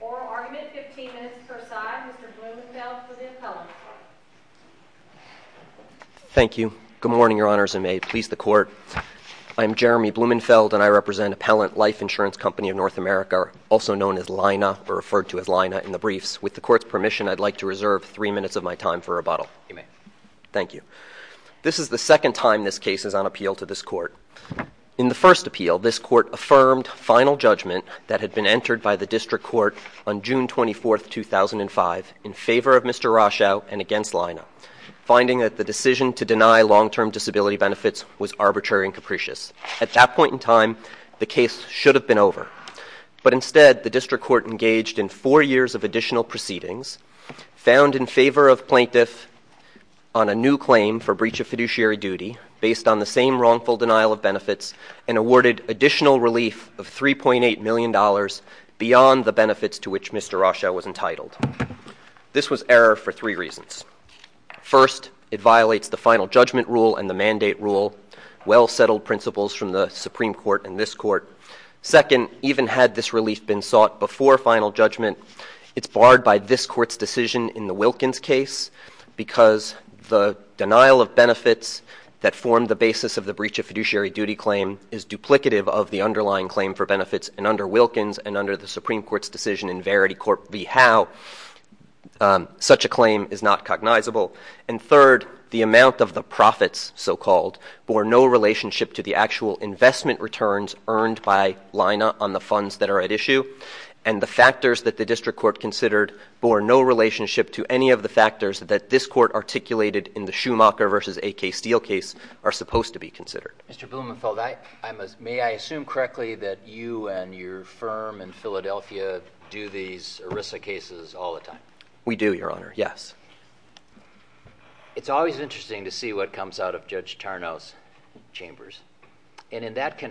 Oral argument, 15 minutes per side. Mr. Blumenfeld for the appellant. Thank you. Good morning, Your Honors, and may it please the Court. I am Jeremy Blumenfeld and I represent Appellant Life Insurance Company of North America, also known as LINA, or referred to as LINA in the briefs. With the Court's permission, I'd like to reserve three minutes of my time for rebuttal. You may. Thank you. This is the second time this case is on appeal to this Court. In the first appeal, this Court affirmed final judgment that had been entered by the District Court on June 24, 2005, in favor of Mr. Rochow and against LINA, finding that the decision to deny long-term disability benefits was arbitrary and capricious. At that point in time, the case should have been over. But instead, the District Court engaged in favor of plaintiff on a new claim for breach of fiduciary duty, based on the same wrongful denial of benefits, and awarded additional relief of $3.8 million beyond the benefits to which Mr. Rochow was entitled. This was error for three reasons. First, it violates the final judgment rule and the mandate rule, well-settled principles from the Supreme Court and this Court. Second, even had this relief been sought before final judgment, it's barred by this Court's decision in the Wilkins case, because the denial of benefits that formed the basis of the breach of fiduciary duty claim is duplicative of the underlying claim for benefits. And under Wilkins, and under the Supreme Court's decision in Verity Court v. Howe, such a claim is not cognizable. And third, the amount of the profits, so-called, bore no relationship to the actual investment returns earned by LINA on the funds that are at issue, and the factors that the District Court considered bore no relationship to any of the factors that this Court articulated in the Schumacher v. A.K. Steele case are supposed to be considered. Mr. Blumenfeld, may I assume correctly that you and your firm in Philadelphia do these ERISA cases all the time? We do, Your Honor. Yes. It's always interesting to see what comes out of Judge Tarnow's chambers. And in that case,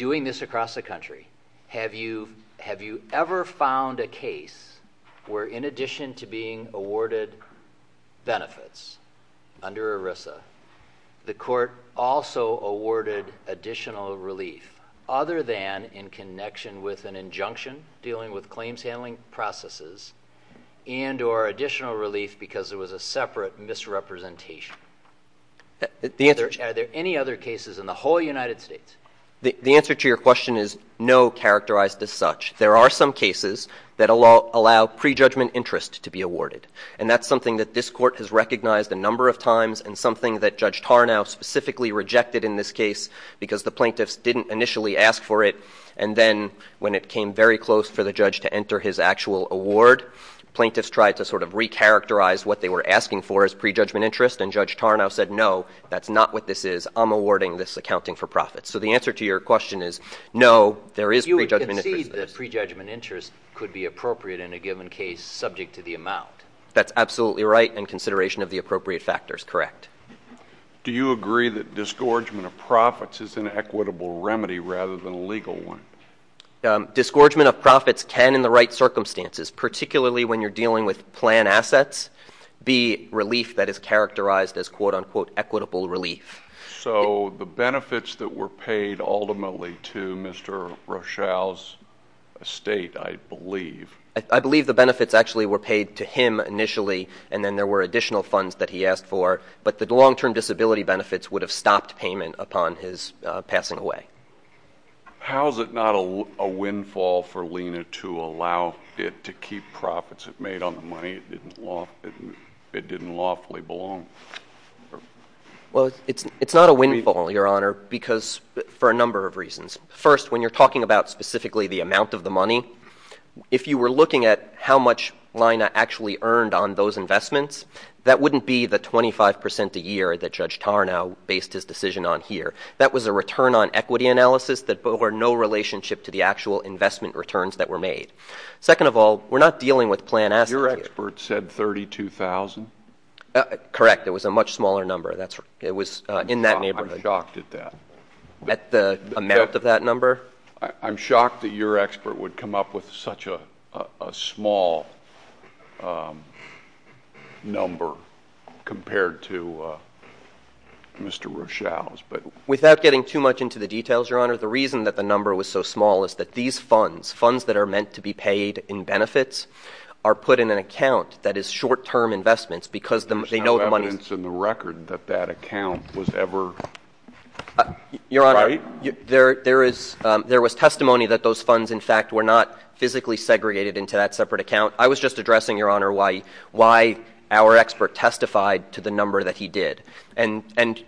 having this across the country, have you ever found a case where, in addition to being awarded benefits under ERISA, the Court also awarded additional relief, other than in connection with an injunction dealing with claims handling processes, and or additional relief because there was a separate misrepresentation. Are there any other cases in the whole United States? The answer to your question is, no, characterized as such. There are some cases that allow pre-judgment interest to be awarded. And that's something that this Court has recognized a number of times and something that Judge Tarnow specifically rejected in this case because the plaintiffs didn't initially ask for it. And then when it came very close for the judge to enter his actual award, plaintiffs tried to sort of recharacterize what they were asking for as pre-judgment interest. And Judge Tarnow said, no, that's not what this is. I'm awarding this accounting for profits. So the answer to your question is, no, there is pre-judgment interest. You would concede that pre-judgment interest could be appropriate in a given case subject to the amount? That's absolutely right in consideration of the appropriate factors, correct. Do you agree that disgorgement of profits is an equitable remedy rather than a legal one? Disgorgement of profits can, in the right circumstances, particularly when you're dealing with plan assets, be relief that is characterized as, quote, unquote, equitable relief. So the benefits that were paid ultimately to Mr. Rochelle's estate, I believe. I believe the benefits actually were paid to him initially, and then there were additional funds that he asked for. But the long-term disability benefits would have stopped payment upon his passing away. How is it not a windfall for Lena to allow it to keep profits it made on the money it didn't lawfully belong? Well, it's not a windfall, Your Honor, for a number of reasons. First, when you're talking about specifically the amount of the money, if you were looking at how much Lena actually earned on those investments, that wouldn't be the 25 percent a year that Judge Tarnow based his decision on here. That was a return on equity analysis that bore no relationship to the actual investment returns that were made. Second of all, we're not dealing with plan assets. Your expert said $32,000? Correct. It was a much smaller number. It was in that neighborhood. I'm shocked at that. At the amount of that number? I'm shocked that your expert would come up with such a small number compared to Mr. Rochelle's. Without getting too much into the details, Your Honor, the reason that the number was so small is that these funds, funds that are meant to be paid in benefits, are put in an There's no evidence in the record that that account was ever right? Your Honor, there was testimony that those funds, in fact, were not physically segregated into that separate account. I was just addressing, Your Honor, why our expert testified to the number that he did. And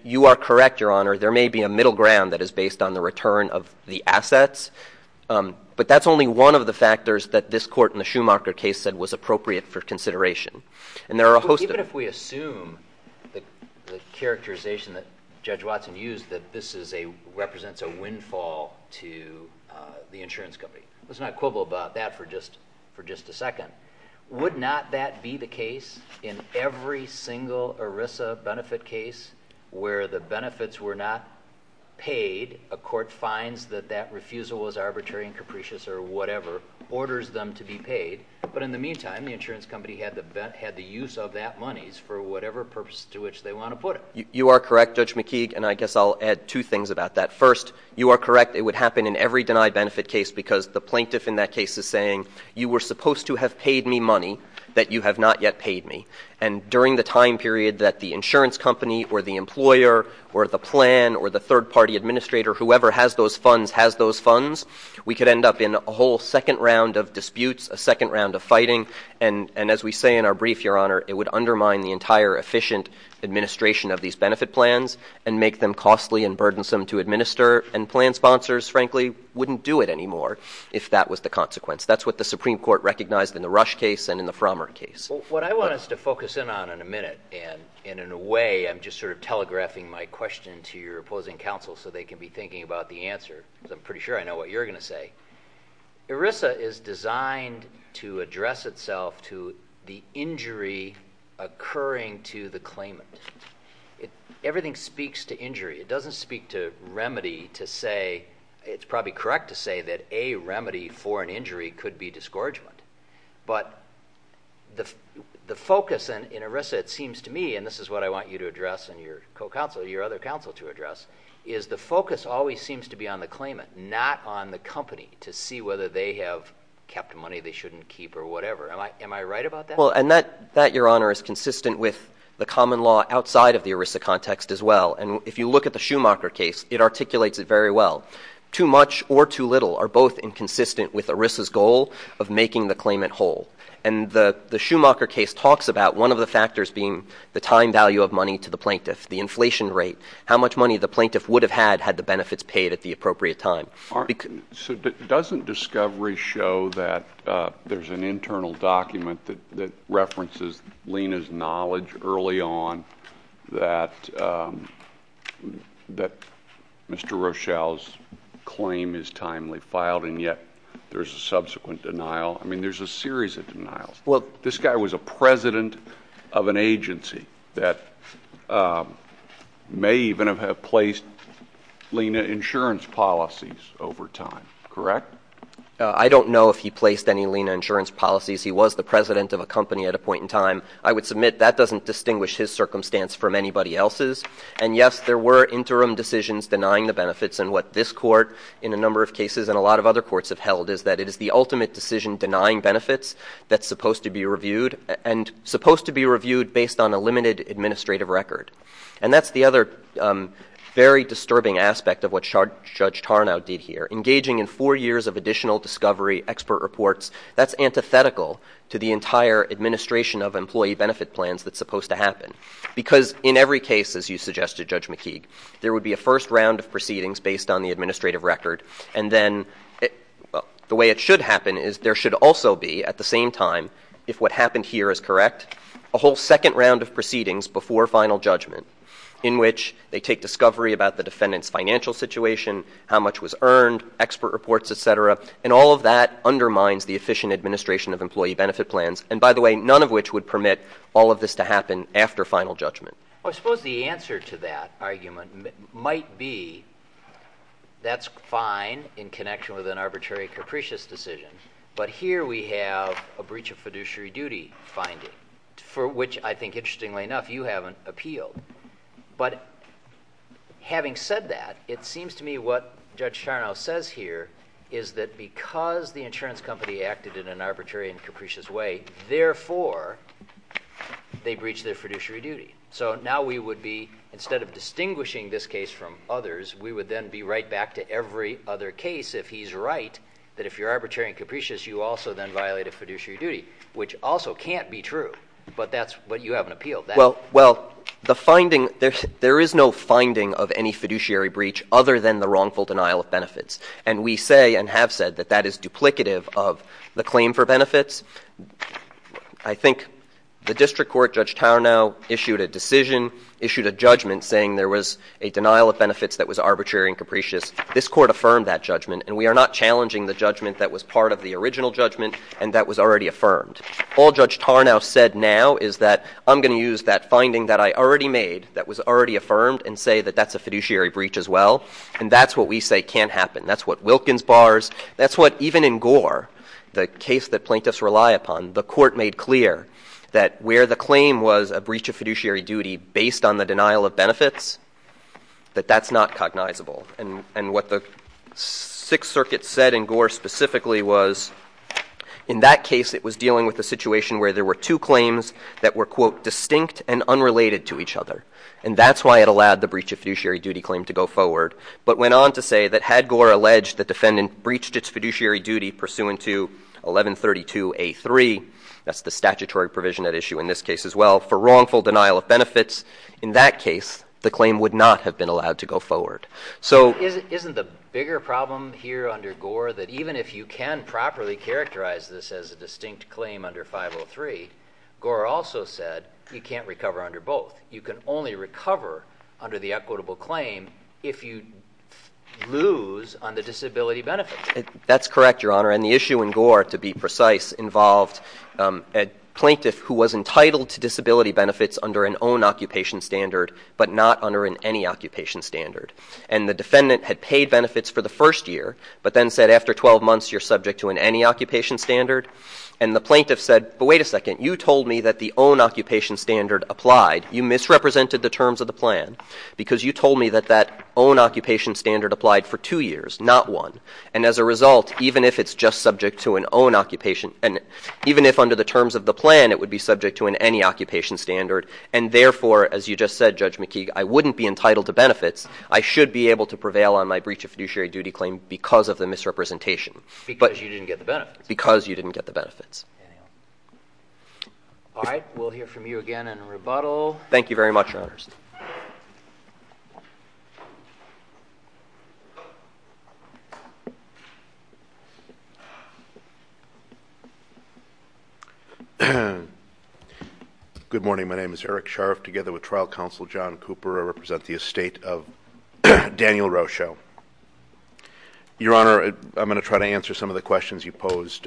you are correct, Your Honor, there may be a middle ground that is based on the return of the assets, but that's only one of the factors that this Court in consideration. Even if we assume the characterization that Judge Watson used, that this represents a windfall to the insurance company. Let's not quibble about that for just a second. Would not that be the case in every single ERISA benefit case where the benefits were not paid, a court finds that that refusal was arbitrary and capricious or whatever, orders them to be paid, but in the meantime, the insurance company had the use of that money for whatever purpose to which they want to put it? You are correct, Judge McKeague, and I guess I'll add two things about that. First, you are correct, it would happen in every denied benefit case because the plaintiff in that case is saying, you were supposed to have paid me money that you have not yet paid me. And during the time period that the insurance company or the employer or the plan or the third party administrator, whoever has those funds, has those funds, we could end up in a whole second round of disputes, a second round of fighting, and as we say in our brief, Your Honor, it would undermine the entire efficient administration of these benefit plans and make them costly and burdensome to administer, and plan sponsors, frankly, wouldn't do it anymore if that was the consequence. That's what the Supreme Court recognized in the Rush case and in the Frommer case. What I want us to focus in on in a minute, and in a way, I'm just sort of telegraphing my question to your opposing counsel so they can be thinking about the answer, because I'm pretty sure I know what you're going to say. ERISA is designed to address itself to the injury occurring to the claimant. Everything speaks to injury. It doesn't speak to remedy to say, it's probably correct to say that a remedy for an injury could be disgorgement. But the focus in ERISA, it seems to me, and this is what I want you to address and your co-counsel, your other counsel to address, is the focus always seems to be on the claimant, not on the company, to see whether they have kept money they shouldn't keep or whatever. Am I right about that? Well, and that, Your Honor, is consistent with the common law outside of the ERISA context as well. And if you look at the Schumacher case, it articulates it very well. Too much or too little are both inconsistent with ERISA's goal of making the claimant whole. And the Schumacher case talks about one of the factors being the time value of money to the plaintiff, the inflation rate, how much money the plaintiff would have had had the benefits paid at the appropriate time. All right. So doesn't discovery show that there's an internal document that references Lena's knowledge early on that Mr. Rochelle's claim is timely filed and yet there's a subsequent denial? I mean, there's a series of denials. Well, this guy was a president of an agency that may even have placed Lena insurance policies over time, correct? I don't know if he placed any Lena insurance policies. He was the president of a company at a point in time. I would submit that doesn't distinguish his circumstance from anybody else's. And yes, there were interim decisions denying the benefits. And what this court, in a number of cases and a lot of other courts have held, is that it is the ultimate decision denying benefits that's supposed to be reviewed and supposed to be reviewed based on a limited administrative record. And that's the other very disturbing aspect of what Judge Tarnow did here. Engaging in four years of additional discovery, expert reports, that's antithetical to the entire administration of employee benefit plans that's supposed to happen. Because in every case, as you suggested, Judge McKeague, there would be a first round of proceedings based on the also be, at the same time, if what happened here is correct, a whole second round of proceedings before final judgment in which they take discovery about the defendant's financial situation, how much was earned, expert reports, et cetera. And all of that undermines the efficient administration of employee benefit plans. And by the way, none of which would permit all of this to happen after final judgment. Well, I suppose the answer to that argument might be that's fine in connection with an Here we have a breach of fiduciary duty finding, for which I think, interestingly enough, you haven't appealed. But having said that, it seems to me what Judge Tarnow says here is that because the insurance company acted in an arbitrary and capricious way, therefore, they breached their fiduciary duty. So now we would be, instead of distinguishing this case from others, we would then be right back to every other case if he's right, that if you're arbitrary and capricious, you also then violate a fiduciary duty, which also can't be true. But that's what you haven't appealed. Well, the finding, there is no finding of any fiduciary breach other than the wrongful denial of benefits. And we say and have said that that is duplicative of the claim for benefits. I think the district court, Judge Tarnow, issued a decision, issued a judgment saying there was a denial of benefits that was arbitrary and capricious. This court affirmed that judgment. And we are not challenging the judgment that was part of the original judgment and that was already affirmed. All Judge Tarnow said now is that I'm going to use that finding that I already made, that was already affirmed, and say that that's a fiduciary breach as well. And that's what we say can't happen. That's what Wilkins bars, that's what even in Gore, the case that plaintiffs rely upon, the court made clear that where the claim was a breach of fiduciary duty based on the denial of benefits, that that's not cognizable. And what the Sixth Circuit said in Gore specifically was in that case it was dealing with a situation where there were two claims that were, quote, distinct and unrelated to each other. And that's why it allowed the breach of fiduciary duty claim to go forward. But went on to say that had Gore alleged the defendant breached its fiduciary duty pursuant to 1132A3, that's the statutory provision at issue in this case as well, for wrongful denial of benefits. In that case, the claim would not have been allowed to go forward. So isn't the bigger problem here under Gore that even if you can properly characterize this as a distinct claim under 503, Gore also said you can't recover under both. You can only recover under the equitable claim if you lose on the disability benefit. That's correct, Your Honor. And the issue in Gore, to be precise, involved a plaintiff who was entitled to disability benefits under an own occupation standard, but not under an any occupation standard. And the defendant had paid benefits for the first year, but then said after 12 months you're subject to an any occupation standard. And the plaintiff said, but wait a second, you told me that the own occupation standard applied. You misrepresented the terms of the plan because you told me that that own occupation standard applied for two years, not one. And as a result, even if it's just subject to an own occupation and even if under the terms of the plan, it would be subject to an any occupation standard. And therefore, as you just said, Judge McKeague, I wouldn't be entitled to benefits. I should be able to prevail on my breach of fiduciary duty claim because of the misrepresentation. Because you didn't get the benefits. Because you didn't get the benefits. All right. We'll hear from you again in rebuttal. Thank you very much, Your Honors. Good morning. My name is Eric Scharf together with trial counsel, John Cooper. I represent the estate of Daniel Rochoe. Your Honor, I'm going to try to answer some of the questions you posed.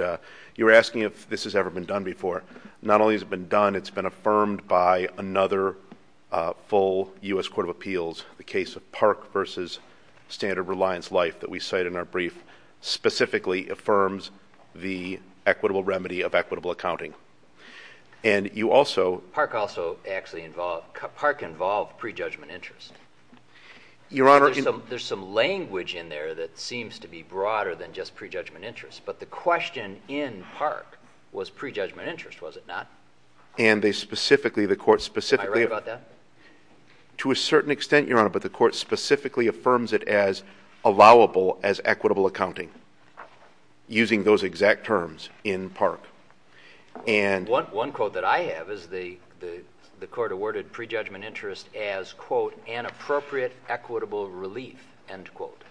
You were asking if this has ever been done before. Not only has it been done, it's been affirmed by another full U.S. Court of Appeals. The case of Park v. Standard Reliance Life that we cite in our brief specifically affirms the equitable remedy of equitable accounting. And you also... Park also actually involved... Park involved pre-judgment interest. Your Honor... There's some language in there that seems to be broader than just pre-judgment interest. But the question in Park was pre-judgment interest, was it not? And they specifically, the court specifically... Am I right about that? To a certain extent, Your Honor, but the court specifically affirms it as allowable as equitable accounting, using those exact terms in Park. And... One quote that I have is the court awarded pre-judgment interest as, quote, an appropriate equitable relief, end quote.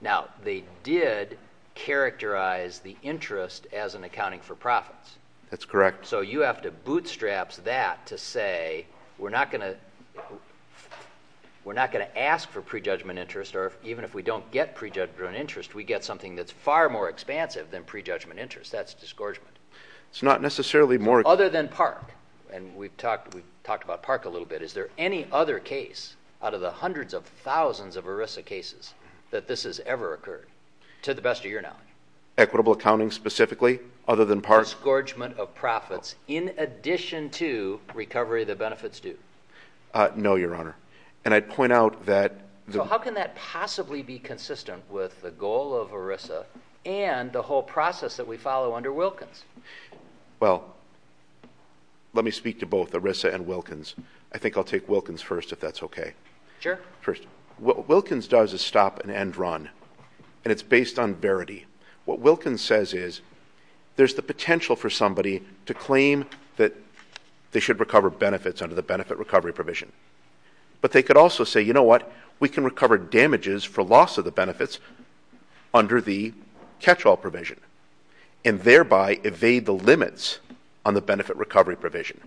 Now, they did characterize the interest as an accounting for profits. That's correct. So you have to bootstrap that to say we're not going to... We're not going to ask for pre-judgment interest, or even if we don't get pre-judgment interest, we get something that's far more expansive than pre-judgment interest. That's disgorgement. It's not necessarily more... Other than Park, and we've talked about Park a little bit, is there any other case out of the hundreds of thousands of ERISA cases that this has ever occurred, to the best of your knowledge? Equitable accounting, specifically, other than Park? Disgorgement of profits, in addition to recovery of the benefits due. No, Your Honor. And I'd point out that... So how can that possibly be consistent with the goal of ERISA and the whole process that we follow under Wilkins? Well, let me speak to both ERISA and Wilkins. I think I'll take Wilkins first, if that's okay. Sure. First, what Wilkins does is stop and end run, and it's based on verity. What Wilkins says is there's the potential for somebody to claim that they should recover benefits under the benefit recovery provision. But they could also say, you know what, we can recover damages for loss of the benefits under the catch-all provision, and thereby evade the limits on the benefit recovery provision.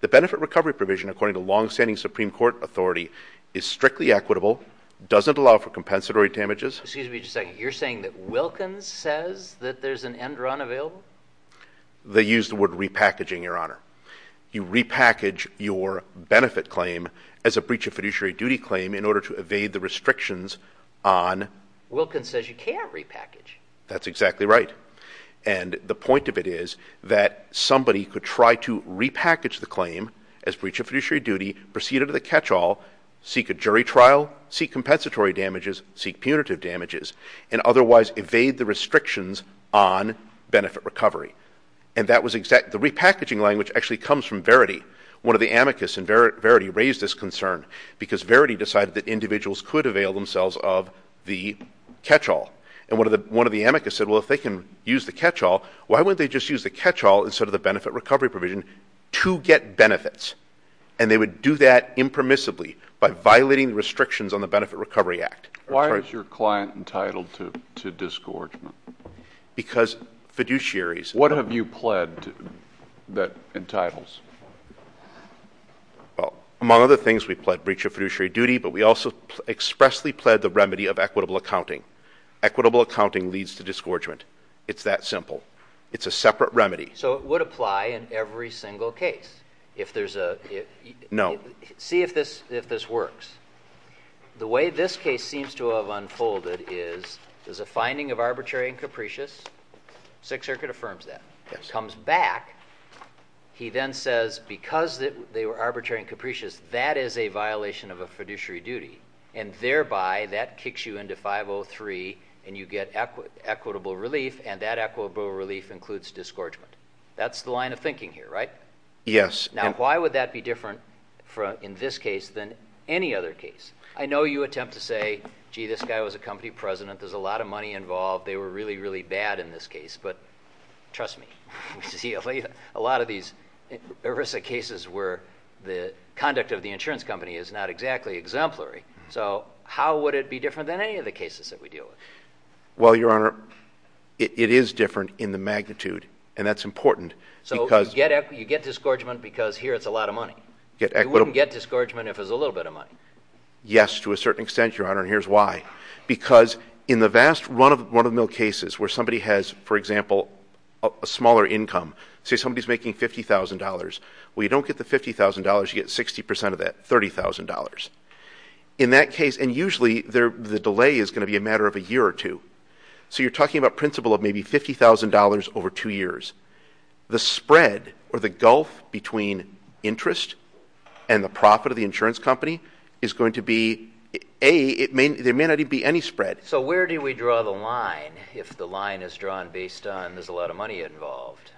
The benefit recovery provision, according to longstanding Supreme Court authority, is strictly equitable, doesn't allow for compensatory damages... Excuse me just a second. You're saying that Wilkins says that there's an end run available? They use the word repackaging, Your Honor. You repackage your benefit claim as a breach of fiduciary duty claim in order to evade the restrictions on... Wilkins says you can't repackage. That's exactly right. And the point of it is that somebody could try to repackage the benefit of the catch-all, seek a jury trial, seek compensatory damages, seek punitive damages, and otherwise evade the restrictions on benefit recovery. And that was exact... The repackaging language actually comes from verity. One of the amicus in verity raised this concern because verity decided that individuals could avail themselves of the catch-all. And one of the amicus said, well, if they can use the catch-all, why wouldn't they just use the catch-all instead of the benefit recovery provision to get benefits? And they would do that impermissibly by violating the restrictions on the Benefit Recovery Act. Why is your client entitled to disgorgement? Because fiduciaries... What have you pled that entitles? Among other things, we pled breach of fiduciary duty, but we also expressly pled the remedy of equitable accounting. Equitable accounting leads to disgorgement. It's that simple. It's a separate remedy. So it would apply in every single case. If there's a... No. See if this works. The way this case seems to have unfolded is there's a finding of arbitrary and capricious. Sixth Circuit affirms that. It comes back. He then says, because they were arbitrary and capricious, that is a violation of a fiduciary duty. And thereby, that kicks you into 503, and you get equitable relief, and that equitable relief includes disgorgement. That's the line of thinking here, right? Yes. Now, why would that be different in this case than any other case? I know you attempt to say, gee, this guy was a company president. There's a lot of money involved. They were really, really bad in this case. But trust me, a lot of these ERISA cases where the conduct of the insurance company is not exactly exemplary. So how would it be different than any of the cases that we deal with? Well, Your Honor, it is different in the magnitude. And that's important because... So you get disgorgement because here it's a lot of money. You wouldn't get disgorgement if it was a little bit of money. Yes, to a certain extent, Your Honor. And here's why. Because in the vast run of the mill cases where somebody has, for example, a smaller income, say somebody's making $50,000, we don't get the $50,000, you get 60% of that, $30,000. In that case, and usually the delay is going to be a matter of a year or two. So you're talking about principle of maybe $50,000 over two years. The spread or the gulf between interest and the profit of the insurance company is going to be, A, there may not even be any spread. So where do we draw the line if the line is drawn based on there's a lot of money involved?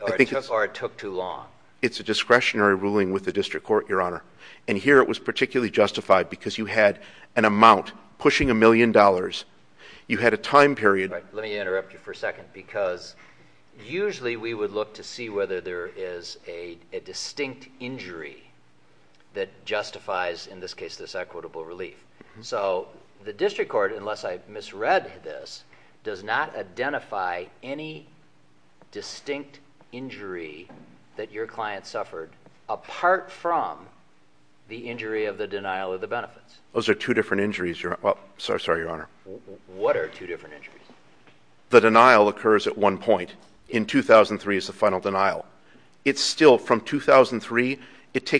Or it took too long? It's a discretionary ruling with the district court, Your Honor. And here it was particularly justified because you had an amount pushing a million dollars. You had a time period... Let me interrupt you for a second because usually we would look to see whether there is a distinct injury that justifies, in this case, this equitable relief. So the district court, unless I misread this, does not identify any distinct injury that your client suffered apart from the injury of the denial of the benefits. Those are two different injuries, Your Honor. Sorry, Your Honor. What are two different injuries? The denial occurs at one point. In 2003 is the final denial. It's still from 2003, it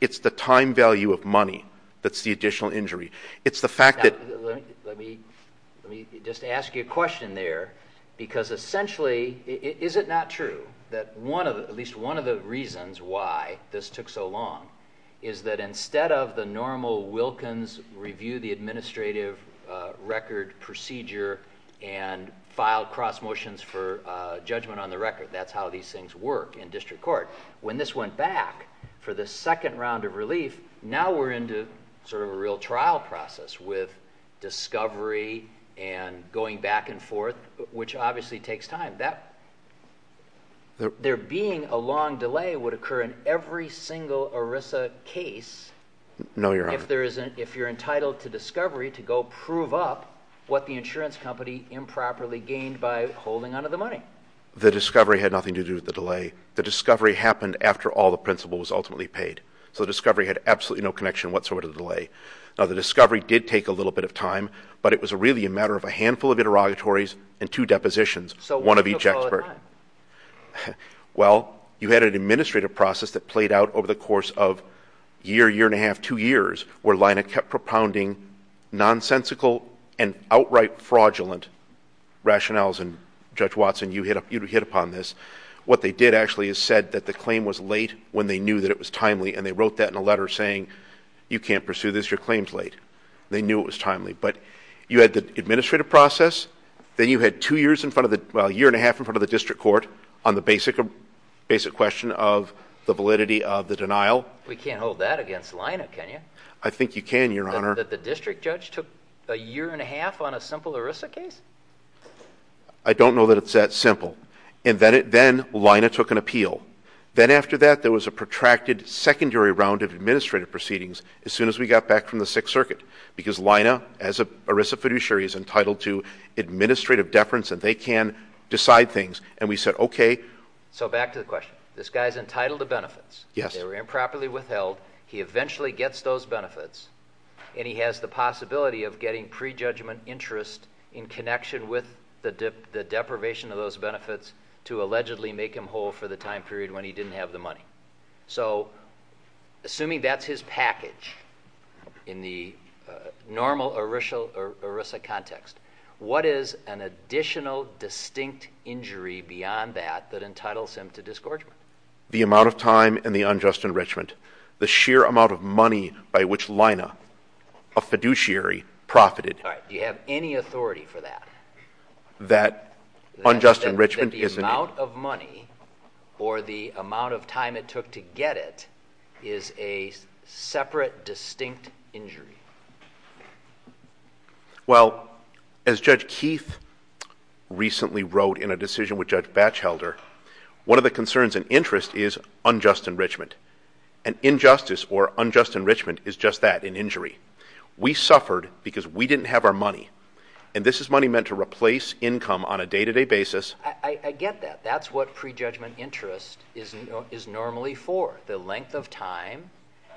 is the time value of money that's the additional injury. It's the fact that... Let me just ask you a question there because essentially, is it not true that at least one of the reasons why this took so long is that instead of the normal Wilkins review the administrative record procedure and filed cross motions for judgment on the record, that's how these things work in district court. When this went back for the second round of relief, now we're into sort of a real trial process with discovery and going back and forth, which obviously takes time. There being a long delay would occur in every single ERISA case if you're entitled to discovery to go prove up what the insurance company improperly gained by holding onto the money. The discovery had nothing to do with the delay. The discovery happened after all the principal was ultimately paid. The discovery had absolutely no connection whatsoever to the delay. The discovery did take a little bit of time, but it was really a matter of a handful of interrogatories and two depositions, one of each expert. You had an administrative process that played out over the course of a year, year and a half, two years, where Lina kept propounding nonsensical and outright fraudulent rationales. Judge Watson, you hit upon this. What they did actually is said that the claim was late when they knew that it was timely, and they wrote that in a letter saying, you can't pursue this. Your claim's late. They knew it was timely, but you had the administrative process. Then you had two years in front of the, well, a year and a half in front of the district court on the basic question of the validity of the denial. We can't hold that against Lina, can you? I think you can, Your Honor. The district judge took a year and a half on a simple ERISA case? I don't know that it's that simple. And then Lina took an appeal. Then after that, there was a protracted secondary round of administrative proceedings as soon as we got back from the Sixth Circuit, because Lina, as an ERISA fiduciary, is entitled to administrative deference, and they can decide things. And we said, okay. So back to the question. This guy's entitled to benefits. Yes. They were improperly withheld. He eventually gets those benefits, and he has the possibility of getting prejudgment interest in connection with the deprivation of those benefits to allegedly make him whole for the time period when he didn't have the money. So assuming that's his package in the normal ERISA context, what is an additional distinct injury beyond that that entitles him to disgorgement? The amount of time and the unjust enrichment. The sheer amount of money by which Lina, a fiduciary, profited. All right. Do you have any authority for that? That unjust enrichment is an... The amount of money or the amount of time it took to get it is a separate distinct injury. Well, as Judge Keith recently wrote in a decision with Judge Batchelder, one of the concerns and interest is unjust enrichment. An injustice or unjust enrichment is just that, an injury. We suffered because we didn't have our money, and this is money meant to replace income on a day-to-day basis. I get that. That's what prejudgment interest is normally for, the length of time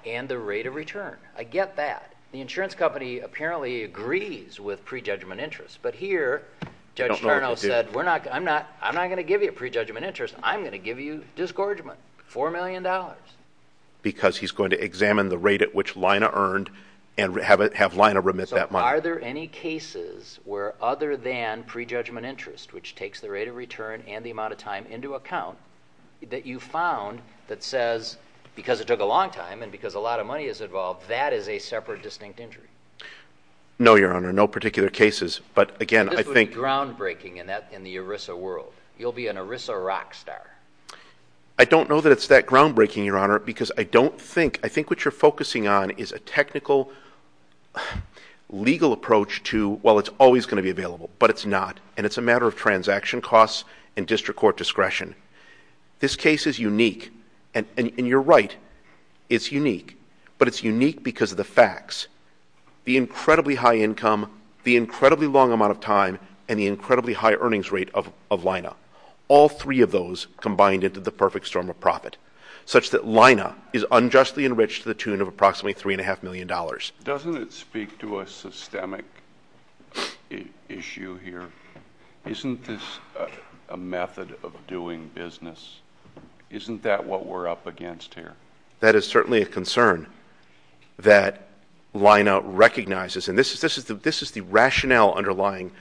and the rate of return. I get that. The insurance company apparently agrees with prejudgment interest, but here Judge Chernow said, I'm not going to give you prejudgment interest. I'm going to give you disgorgement, $4 million. Because he's going to examine the rate at which Lina earned and have Lina remit that money. Are there any cases where other than prejudgment interest, which takes the rate of return and the amount of time into account, that you found that says, because it took a long time and because a lot of money is involved, that is a separate distinct injury? No, Your Honor. No particular cases. But again, I think... This would be groundbreaking in the ERISA world. You'll be an ERISA rock star. I don't know that it's that groundbreaking, Your Honor, because I don't think... I think what you're focusing on is a technical, legal approach to, well, it's always going to be available, but it's not, and it's a matter of transaction costs and district court discretion. This case is unique, and you're right, it's unique, but it's unique because of the facts. The incredibly high income, the incredibly long amount of time, and the incredibly high earnings rate of Lina. All three of those combined into the perfect storm of profit, such that Lina is unjustly enriched to the tune of approximately three and a half million dollars. Doesn't it speak to a systemic issue here? Isn't this a method of doing business? Isn't that what we're up against here? That is certainly a concern that Lina recognizes, and this is the rationale underlying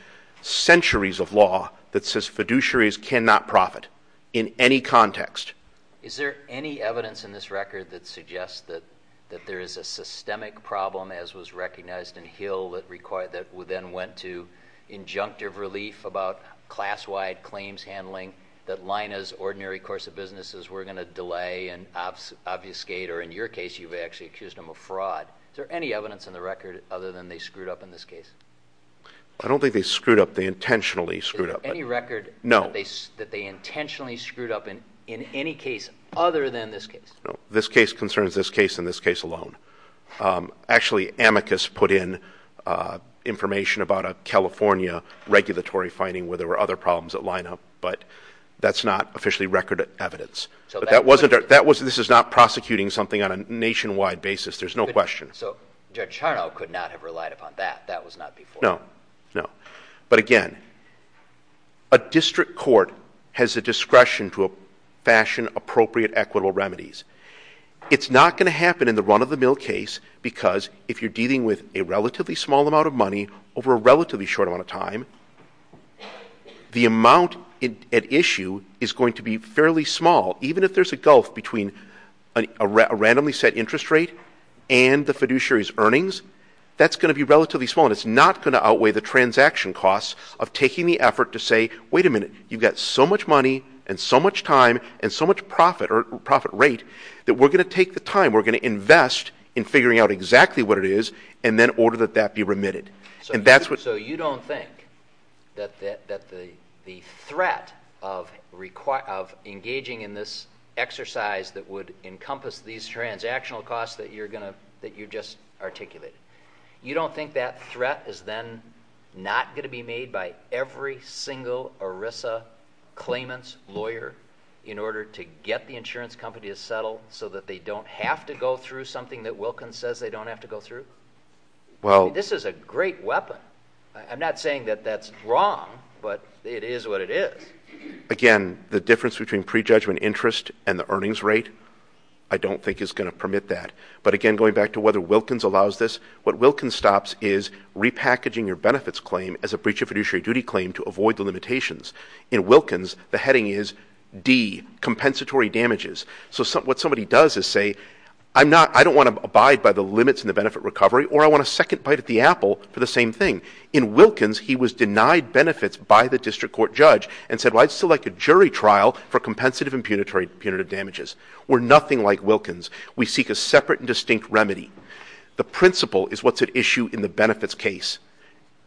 centuries of law that says fiduciaries cannot profit in any context. Is there any evidence in this record that suggests that there is a systemic problem, as was recognized in Hill, that then went to injunctive relief about class-wide claims handling, that Lina's ordinary course of business is we're going to delay and obfuscate, or in your case, you've actually accused them of fraud. Is there any evidence in the record other than they screwed up in this case? I don't think they screwed up. They intentionally screwed up. Any record that they intentionally screwed up in any case other than this case? No. This case concerns this case and this case alone. Actually, amicus put in information about a California regulatory finding where there were other problems at Lina, but that's not officially record evidence. This is not prosecuting something on a nationwide basis. There's no question. So Judge Charnow could not have relied upon that. That was not before. No. But again, a district court has a discretion to fashion appropriate equitable remedies. It's not going to happen in the run-of-the-mill case because if you're dealing with a relatively small amount of money over a relatively short amount of time, the amount at issue is going to be fairly small, even if there's a gulf between a randomly set interest rate and the outweigh the transaction costs of taking the effort to say, wait a minute, you've got so much money and so much time and so much profit or profit rate that we're going to take the time, we're going to invest in figuring out exactly what it is, and then order that that be remitted. So you don't think that the threat of engaging in this exercise that would encompass these transactional costs that you're just articulating, you don't think that threat is then not going to be made by every single ERISA claimant's lawyer in order to get the insurance company to settle so that they don't have to go through something that Wilkins says they don't have to go through? This is a great weapon. I'm not saying that that's wrong, but it is what it is. Again, the difference between prejudgment interest and the earnings rate, I don't think is going to permit that. But again, going back to whether Wilkins allows this, what Wilkins stops is repackaging your benefits claim as a breach of fiduciary duty claim to avoid the limitations. In Wilkins, the heading is D, compensatory damages. So what somebody does is say, I don't want to abide by the limits in the benefit recovery, or I want a second bite at the apple for the same thing. In Wilkins, he was denied benefits by the district court judge and said, well, I'd still like a jury trial for compensative and punitive damages. We're nothing like Wilkins. We seek a separate and distinct remedy. The principle is what's at issue in the benefits case.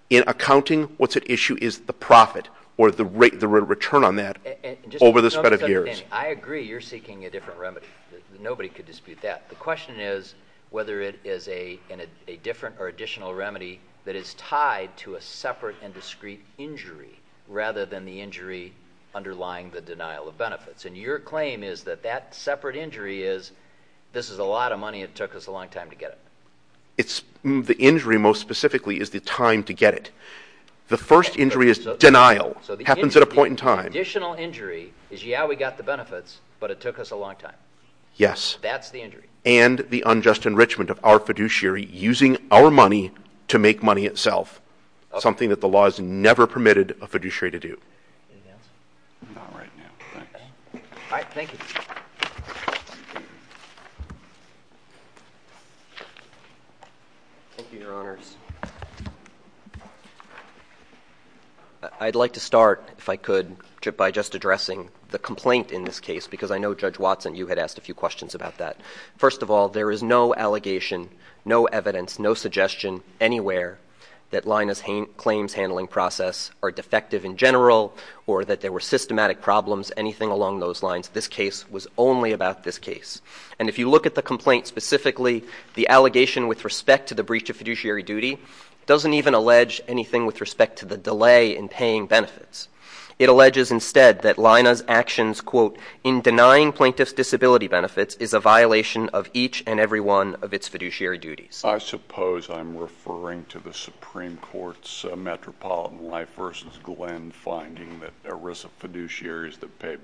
In accounting, what's at issue is the profit or the return on that over the spread of years. I agree you're seeking a different remedy. Nobody could dispute that. The question is whether it is a different or additional remedy that is tied to a separate and discreet injury rather than the injury underlying the denial of benefits. And your claim is that that separate injury is, this is a lot of money. It took us a long time to get it. The injury, most specifically, is the time to get it. The first injury is denial. It happens at a point in time. The additional injury is, yeah, we got the benefits, but it took us a long time. Yes. That's the injury. And the unjust enrichment of our fiduciary using our money to make money itself, something that the law has to do. Thank you, Your Honors. I'd like to start, if I could, by just addressing the complaint in this case, because I know Judge Watson, you had asked a few questions about that. First of all, there is no allegation, no evidence, no suggestion anywhere that Lina's claims handling process are defective in general or that there were systematic problems, anything along those lines. This case was only about this case. And if you look at the complaint specifically, the allegation with respect to the breach of fiduciary duty doesn't even allege anything with respect to the delay in paying benefits. It alleges instead that Lina's actions, quote, in denying plaintiff's disability benefits is a violation of each and every one of its fiduciary duties. I suppose I'm referring to the Supreme Court's Metropolitan Life v. Glenn finding that ERISA fiduciaries that pay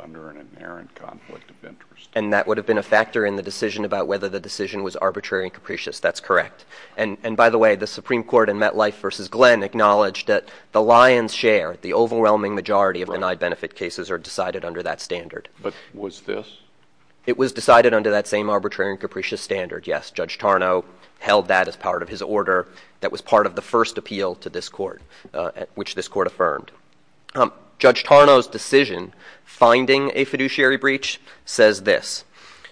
under an inherent conflict of interest. And that would have been a factor in the decision about whether the decision was arbitrary and capricious. That's correct. And by the way, the Supreme Court in MetLife v. Glenn acknowledged that the lion's share, the overwhelming majority of denied benefit cases are decided under that standard. But was this? It was decided under that same arbitrary and capricious standard, yes. Judge Tarnow held that as part of his order that was part of the a fiduciary breach says this.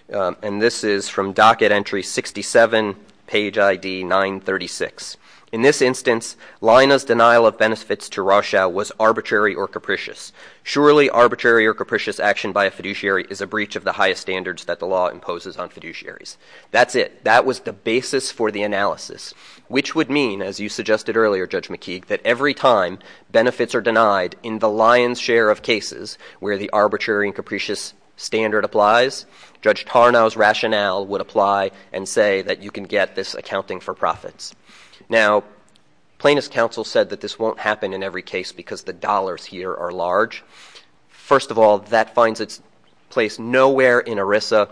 And this is from docket entry 67, page ID 936. In this instance, Lina's denial of benefits to Rochelle was arbitrary or capricious. Surely arbitrary or capricious action by a fiduciary is a breach of the highest standards that the law imposes on fiduciaries. That's it. That was the basis for the analysis, which would mean, as you suggested earlier, Judge McKeague, that every time benefits are denied in the lion's share of cases where the arbitrary and capricious standard applies, Judge Tarnow's rationale would apply and say that you can get this accounting for profits. Now, Plaintiff's counsel said that this won't happen in every case because the dollars here are large. First of all, that finds its place nowhere in ERISA,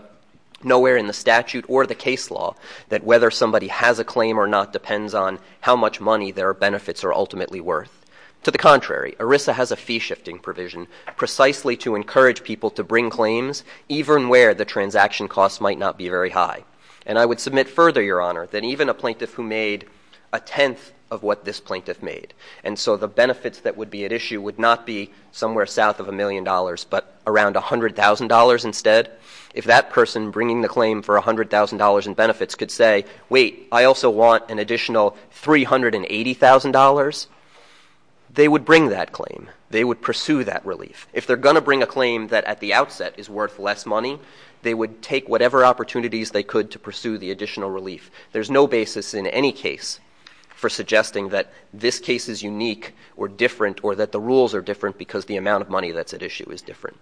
nowhere in the statute or the case law that whether somebody has a claim or not depends on how much money their benefits are ultimately worth. To the contrary, ERISA has a fee shifting provision precisely to encourage people to bring claims even where the transaction costs might not be very high. And I would submit further, Your Honor, than even a plaintiff who made a tenth of what this plaintiff made. And so the benefits that would be at issue would not be somewhere south of a million dollars but around $100,000 instead. If that person bringing the claim for $100,000 in benefits could say, wait, I also want an additional $380,000, they would bring that claim. They would pursue that relief. If they're going to bring a claim that at the outset is worth less money, they would take whatever opportunities they could to pursue the additional relief. There's no basis in any case for suggesting that this case is unique or different or that the rules are different because the amount of money that's at issue is different.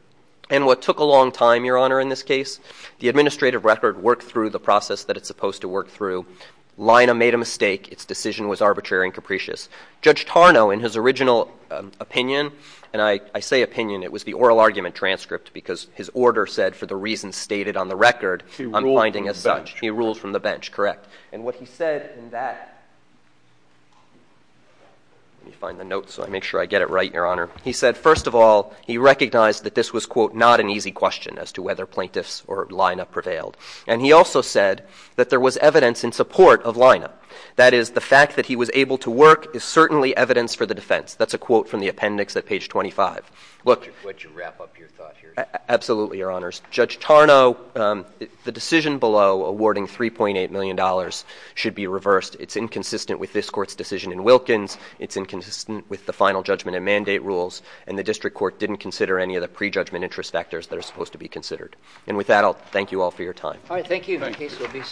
And what took a long time, Your Honor, in this case, the administrative record worked through the process that it's supposed to work through. Lina made a mistake. Its decision was arbitrary and capricious. Judge Tarnow, in his original opinion, and I say opinion, it was the oral argument transcript because his order said, for the reasons stated on the record, I'm finding as such. He ruled from the bench. Correct. And what he said in that, let me find the notes so I make sure I get it right, Your Honor. He said, first of all, he recognized that this was, quote, not an easy question as to whether plaintiffs or Lina prevailed. And he also said that there was evidence in support of Lina. That is, the fact that he was able to work is certainly evidence for the defense. That's a quote from the appendix at page 25. Would you wrap up your thought here? Absolutely, Your Honors. Judge Tarnow, the decision below awarding $3.8 million should be reversed. It's inconsistent with this court's decision in Wilkins. It's inconsistent with the final judgment and mandate rules. And the district court didn't consider any of the prejudgment interest factors that are supposed to be considered. And with that, I'll thank you all for your time. All right. Thank you. The case will be adjourned.